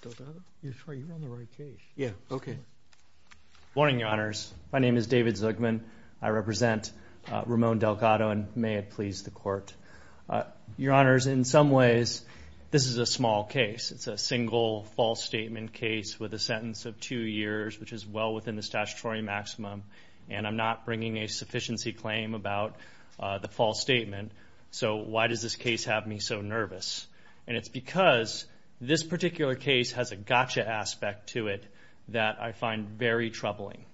Good morning, your honors. My name is David Zuckman. I represent Ramon Delgado and may it please the court. Your honors, in some ways, this is a small case. It's a single false statement case with a sentence of two years, which is well within the statutory maximum. And I'm not bringing a sufficiency claim about the false statement. So why does this case have me so nervous? And it's because this particular case has a gotcha aspect to it that I find very troubling.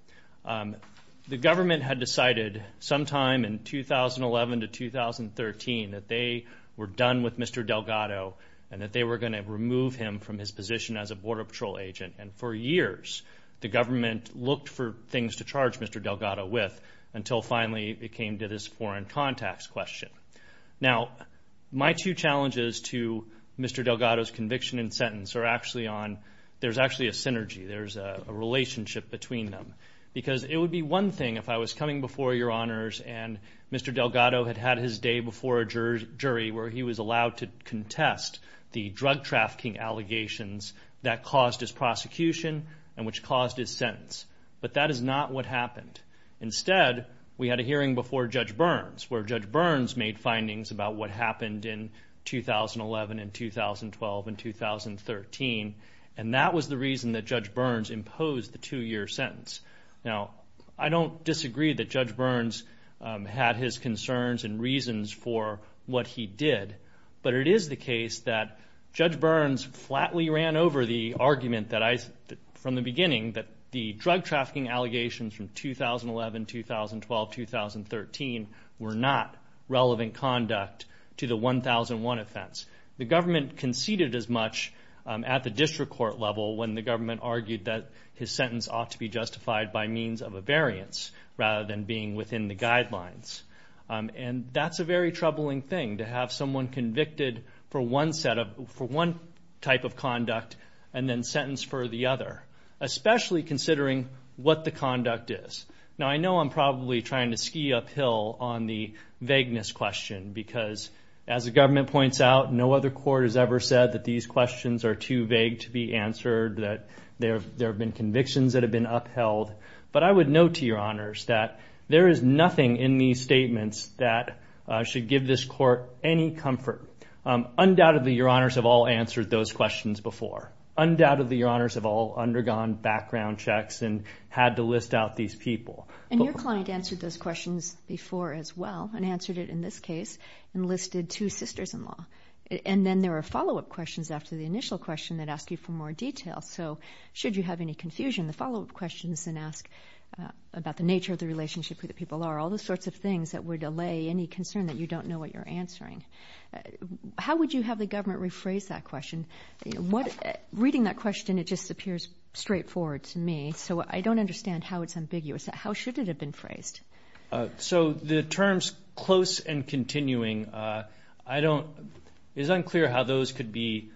The government had decided sometime in 2011 to 2013 that they were done with Mr. Delgado and that they were going to remove him from his position as a border patrol agent. And for years, the government looked for things to charge Mr. Delgado on a contacts question. Now, my two challenges to Mr. Delgado's conviction and sentence are actually on, there's actually a synergy, there's a relationship between them. Because it would be one thing if I was coming before your honors and Mr. Delgado had had his day before a jury where he was allowed to contest the drug trafficking allegations that caused his prosecution and which caused his sentence. But that is not what happened. Instead, we had a hearing before Judge Burns, where Judge Burns made findings about what happened in 2011 and 2012 and 2013. And that was the reason that Judge Burns imposed the two-year sentence. Now, I don't disagree that Judge Burns had his concerns and reasons for what he did. But it is the case that Judge Burns flatly ran over the argument that I, from the beginning, that the drug trafficking allegations from 2011, 2012, 2013 were not relevant conduct to the 1001 offense. The government conceded as much at the district court level when the government argued that his sentence ought to be justified by means of a variance rather than being within the guidelines. And that's a very troubling thing, to have someone convicted for one set of, for one type of conduct and then sentenced for the other, especially considering what the conduct is. Now, I know I'm probably trying to ski uphill on the vagueness question because, as the government points out, no other court has ever said that these questions are too vague to be answered, that there have been convictions that have been upheld. But I would note to your honors that there is nothing in these statements that should give this court any comfort. Undoubtedly, your honors have all answered those questions before. Undoubtedly, your honors have all undergone background checks and had to list out these people. And your client answered those questions before as well and answered it in this case and listed two sisters-in-law. And then there are follow-up questions after the initial question that ask you for more detail. So, should you have any confusion, the follow-up questions then ask about the nature of the relationship, who the people are, all those sorts of things that would allay any concern that you don't know what you're answering. How would you have the government rephrase that question? Reading that question, it just appears straightforward to me, so I don't understand how it's ambiguous. How should it have been phrased? So the terms close and continuing, I don't, it's unclear how those could be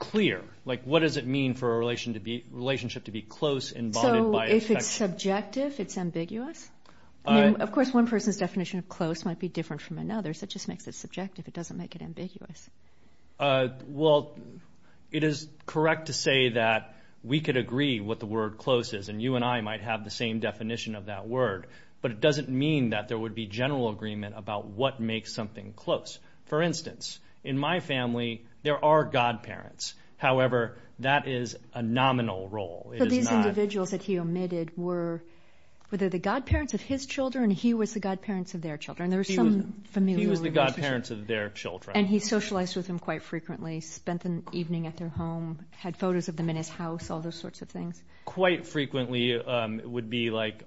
clear. Like, what does it mean for a relationship to be close and bonded by affection? So, if it's subjective, it's ambiguous? Of course, one person's definition of close might be different from another's. It just makes it subjective. It doesn't make it ambiguous. Well, it is correct to say that we could agree what the word close is, and you and I might have the same definition of that word. But it doesn't mean that there would be general agreement about what makes something close. For instance, in my family, there are godparents. However, that is a nominal role. So these individuals that he omitted were, were they the godparents of his children, or he was the godparents of their children? There was some familial relationship. He was the godparents of their children. And he socialized with them quite frequently, spent the evening at their home, had photos of them in his house, all those sorts of things? Quite frequently would be like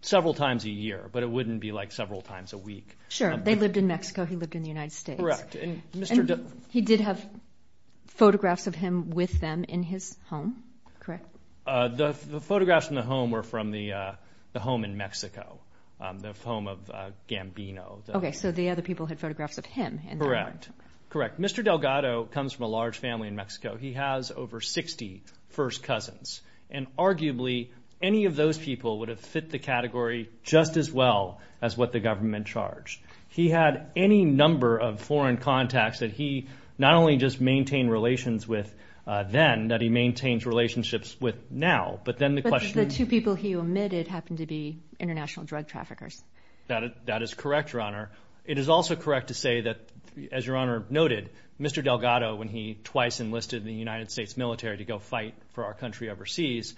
several times a year, but it wouldn't be like several times a week. Sure. They lived in Mexico, he lived in the United States. Correct. And Mr. D... He did have photographs of him with them in his home, correct? The photographs in the home were from the home in Mexico, the home of Gambino. Okay, so the other people had photographs of him in their home. Correct. Correct. Mr. Delgado comes from a large family in Mexico. He has over 60 first cousins. And arguably, any of those people would have fit the category just as well as what the not only just maintain relations with then, that he maintains relationships with now, but then the question... The two people he omitted happened to be international drug traffickers. That, that is correct, Your Honor. It is also correct to say that, as Your Honor noted, Mr. Delgado, when he twice enlisted in the United States military to go fight for our country overseas,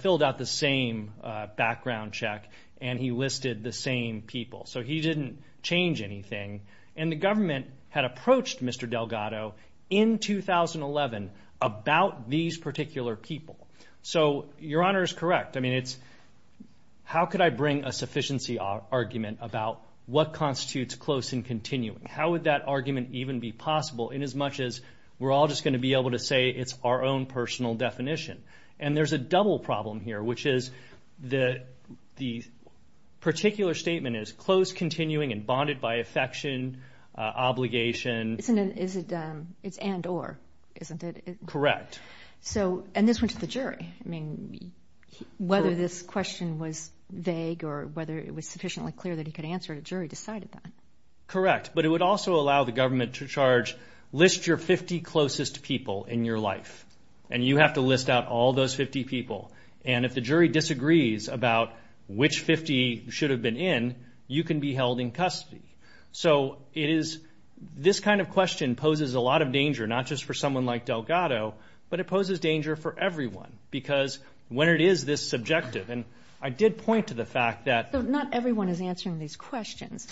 filled out the same background check, and he listed the same people. So he didn't change anything. And the government had approached Mr. Delgado in 2011 about these particular people. So Your Honor is correct. I mean, it's... How could I bring a sufficiency argument about what constitutes close and continuing? How would that argument even be possible in as much as we're all just going to be able to say it's our own personal definition? And there's a double problem here, which is that the particular statement is close, continuing, and bonded by affection, obligation. Isn't it, is it, it's and or, isn't it? Correct. So, and this went to the jury. I mean, whether this question was vague or whether it was sufficiently clear that he could answer it, a jury decided that. Correct. But it would also allow the government to charge, list your 50 closest people in your life. And you have to list out all those 50 people. And if the jury disagrees about which 50 should have been in, you can be held in custody. So it is, this kind of question poses a lot of danger, not just for someone like Delgado, but it poses danger for everyone. Because when it is this subjective, and I did point to the fact that... So not everyone is answering these questions.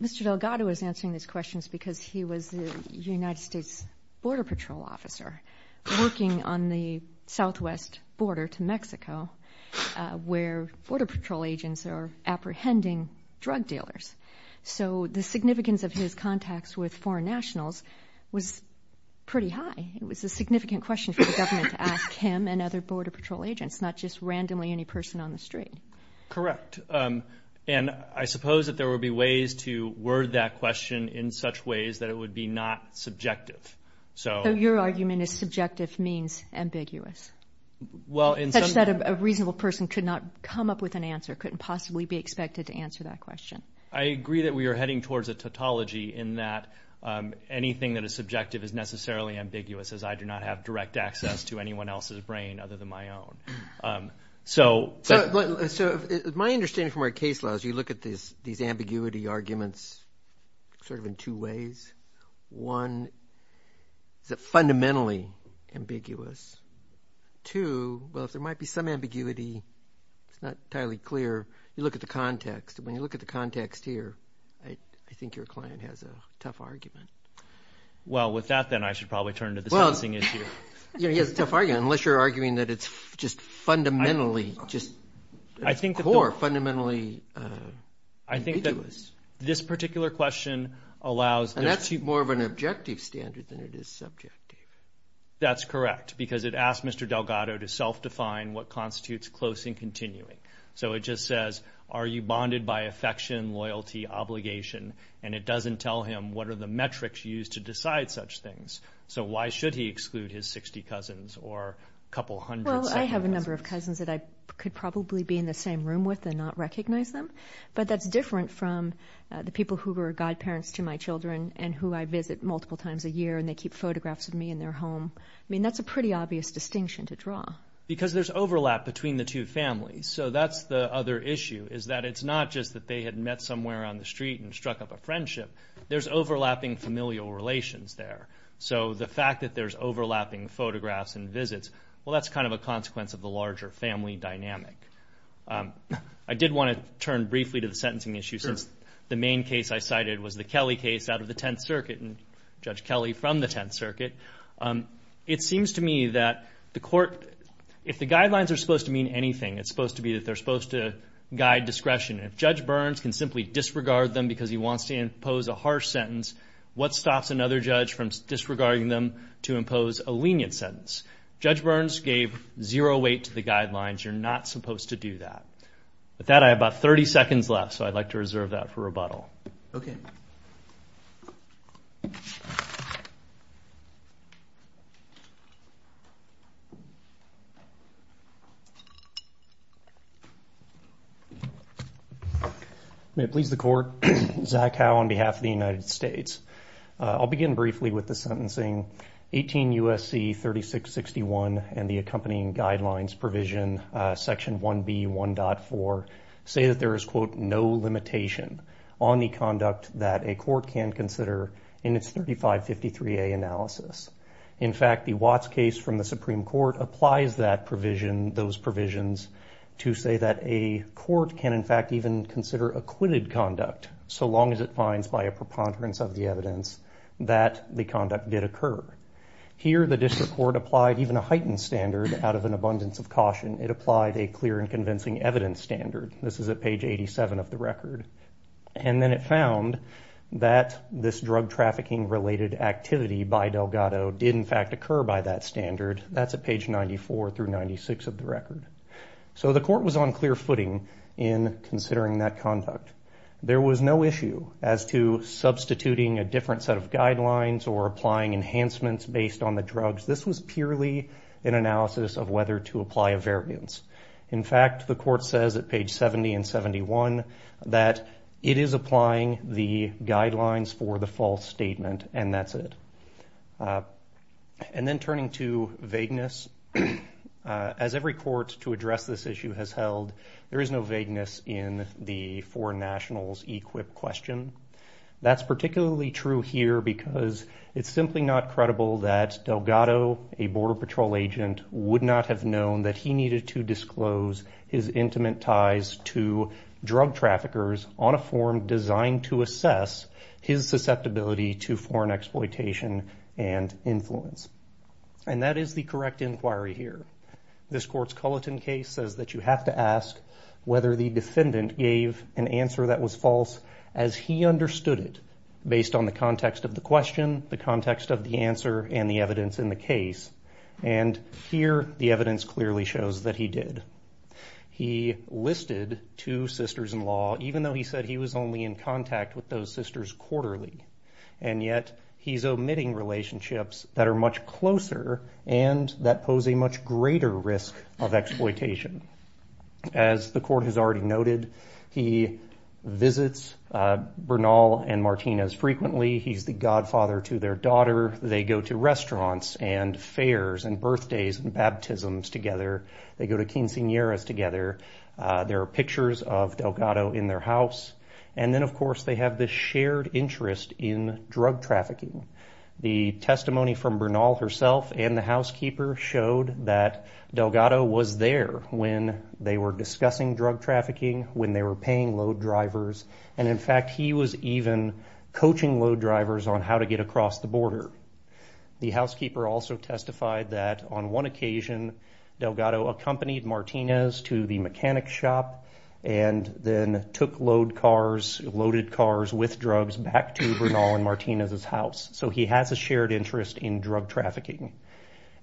Mr. Delgado is answering these questions because he was the United States Border Patrol officer working on the southwest border to Mexico, where Border Patrol agents are apprehending drug dealers. So the significance of his contacts with foreign nationals was pretty high. It was a significant question for the government to ask him and other Border Patrol agents, not just randomly any person on the street. Correct. And I suppose that there will be ways to word that question in such ways that it would be not subjective. So... Your argument is subjective means ambiguous. Well, in some... Such that a reasonable person could not come up with an answer, couldn't possibly be expected to answer that question. I agree that we are heading towards a tautology in that anything that is subjective is necessarily ambiguous, as I do not have direct access to anyone else's brain other than my own. So... So my understanding from our case law is you look at these ambiguity arguments sort of in two ways. One, is it fundamentally ambiguous? Two, well, if there might be some ambiguity, it's not entirely clear. You look at the context. When you look at the context here, I think your client has a tough argument. Well, with that, then I should probably turn to discussing it here. Yeah, he has a tough argument, unless you're arguing that it's just fundamentally just core, fundamentally... I think that this particular question allows... And that's more of an objective standard than it is subjective. That's correct, because it asked Mr. Delgado to self-define what constitutes close and continuing. So it just says, are you bonded by affection, loyalty, obligation? And it doesn't tell him what are the metrics used to decide such things. So why should he exclude his 60 cousins or a couple of hundreds? Well, I have a number of cousins that I could probably be in the same room with and not recognize them. But that's different from the people who are godparents to my children and who I visit multiple times a year, and they keep photographs of me in their home. I mean, that's a pretty obvious distinction to draw. Because there's overlap between the two families. So that's the other issue, is that it's not just that they had met somewhere on the street and struck up a friendship. There's overlapping familial relations there. So the fact that there's overlapping photographs and visits, well, that's kind of a consequence of the larger family dynamic. I did want to turn briefly to the sentencing issue since the main case I cited was the Kelly case out of the Tenth Circuit and Judge Kelly from the Tenth Circuit. It seems to me that the court, if the guidelines are supposed to mean anything, it's supposed to be that they're supposed to guide discretion. If Judge Burns can simply disregard them because he wants to impose a harsh sentence, what stops another judge from disregarding them to impose a lenient sentence? Judge Burns gave zero weight to the guidelines. You're not supposed to do that. With that, I have about 30 seconds left, so I'd like to reserve that for rebuttal. Okay. May it please the court. Zach Howe on behalf of the United States. I'll begin briefly with sentencing. 18 U.S.C. 3661 and the accompanying guidelines provision section 1B.1.4 say that there is, quote, no limitation on the conduct that a court can consider in its 3553A analysis. In fact, the Watts case from the Supreme Court applies that provision, those provisions, to say that a court can, in fact, even consider acquitted conduct so long as it finds by a preponderance of the evidence that the conduct did occur. Here, the district court applied even a heightened standard out of an abundance of caution. It applied a clear and convincing evidence standard. This is at page 87 of the record. And then it found that this drug trafficking related activity by Delgado did, in fact, occur by that standard. That's at page 94 through 96 of the record. So the court was on clear footing in considering that conduct. There was no issue as to substituting a different set of guidelines or applying enhancements based on the drugs. This was purely an analysis of whether to apply a variance. In fact, the court says at page 70 and 71 that it is applying the guidelines for the false statement and that's it. And then turning to vagueness, as every court to address this issue has held, there is no nationals equip question. That's particularly true here because it's simply not credible that Delgado, a border patrol agent, would not have known that he needed to disclose his intimate ties to drug traffickers on a form designed to assess his susceptibility to foreign exploitation and influence. And that is the correct inquiry here. This court's Culleton case says that you have to ask whether the defendant gave an answer that was false as he understood it based on the context of the question, the context of the answer, and the evidence in the case. And here the evidence clearly shows that he did. He listed two sisters-in-law even though he said he was only in contact with those sisters quarterly. And yet he's omitting relationships that are much closer and that pose a much greater risk of exploitation. As the court has already noted, he visits Bernal and Martinez frequently. He's the godfather to their daughter. They go to restaurants and fairs and birthdays and baptisms together. They go to quinceañeras together. There are pictures of Delgado in their house. And then, of course, they have this shared interest in drug trafficking. The testimony from Bernal herself and the housekeeper showed that Delgado was there when they were discussing drug trafficking, when they were paying load drivers, and in fact he was even coaching load drivers on how to get across the border. The housekeeper also testified that on one occasion Delgado accompanied Martinez to the mechanic shop and then took load cars, with drugs, back to Bernal and Martinez's house. So he has a shared interest in drug trafficking.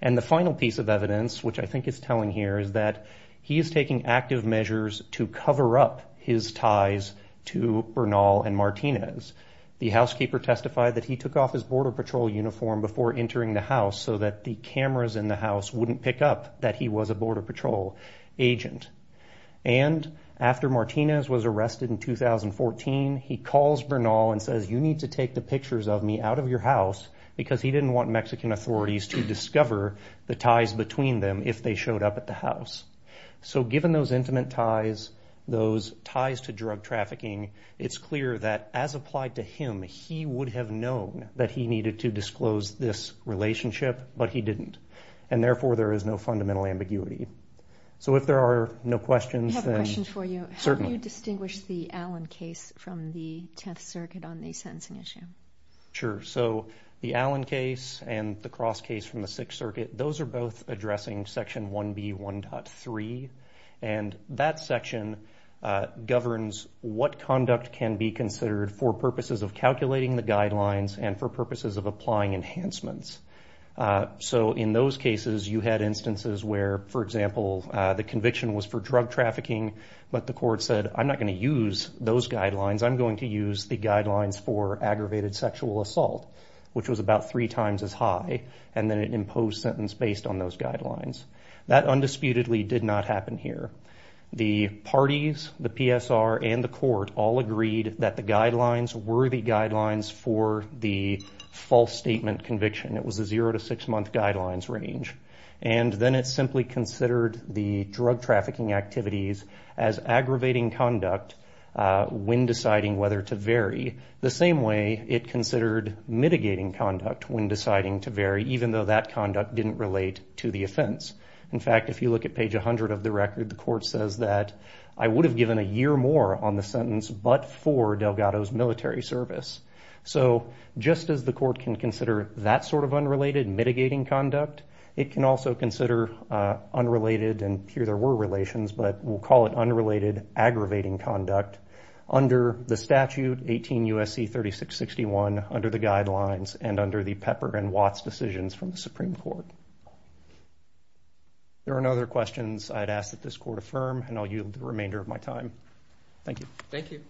And the final piece of evidence, which I think is telling here, is that he's taking active measures to cover up his ties to Bernal and Martinez. The housekeeper testified that he took off his Border Patrol uniform before entering the house so that the cameras in the house wouldn't pick up that he was a Border Patrol agent. And after Martinez was arrested in 2014, he calls Bernal and says, you need to take the pictures of me out of your house, because he didn't want Mexican authorities to discover the ties between them if they showed up at the house. So given those intimate ties, those ties to drug trafficking, it's clear that as applied to him, he would have known that he needed to disclose this relationship, but he didn't. And therefore, there is no fundamental ambiguity. So if there are no questions, then... The 10th Circuit on the sentencing issue. Sure. So the Allen case and the cross case from the Sixth Circuit, those are both addressing Section 1B.1.3. And that section governs what conduct can be considered for purposes of calculating the guidelines and for purposes of applying enhancements. So in those cases, you had instances where, for example, the conviction was for drug I'm going to use the guidelines for aggravated sexual assault, which was about three times as high. And then it imposed sentence based on those guidelines. That undisputedly did not happen here. The parties, the PSR and the court all agreed that the guidelines were the guidelines for the false statement conviction. It was a zero to six month guidelines range. And then it simply considered the drug trafficking activities as aggravating conduct when deciding whether to vary the same way it considered mitigating conduct when deciding to vary, even though that conduct didn't relate to the offense. In fact, if you look at page 100 of the record, the court says that I would have given a year more on the sentence, but for Delgado's military service. So just as the court can consider that sort of unrelated mitigating conduct, it can also consider unrelated, and here there were relations, but we'll call it unrelated aggravating conduct under the statute 18 U.S.C. 3661 under the guidelines and under the Pepper and Watts decisions from the Supreme Court. There are no other questions I'd ask that this court affirm, and I'll yield the remainder of my time. Thank you. Thank you.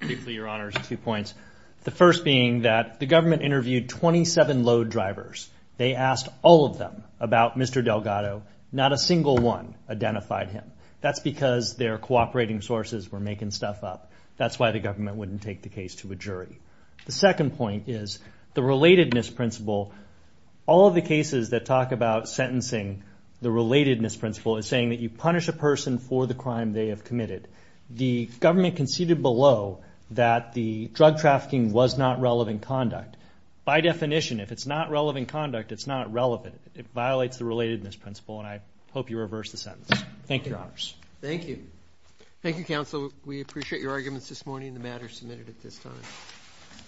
Thank you for your honors. Two points. The first being that the government interviewed 27 load drivers. They asked all of them about Mr. Delgado. Not a single one identified him. That's because their cooperating sources were making stuff up. That's why the government wouldn't take the case to a jury. The second point is the relatedness principle. All of the cases that talk about The government conceded below that the drug trafficking was not relevant conduct. By definition, if it's not relevant conduct, it's not relevant. It violates the relatedness principle, and I hope you reverse the sentence. Thank you, your honors. Thank you. Thank you, counsel. We appreciate your arguments this morning. The matter submitted at this time.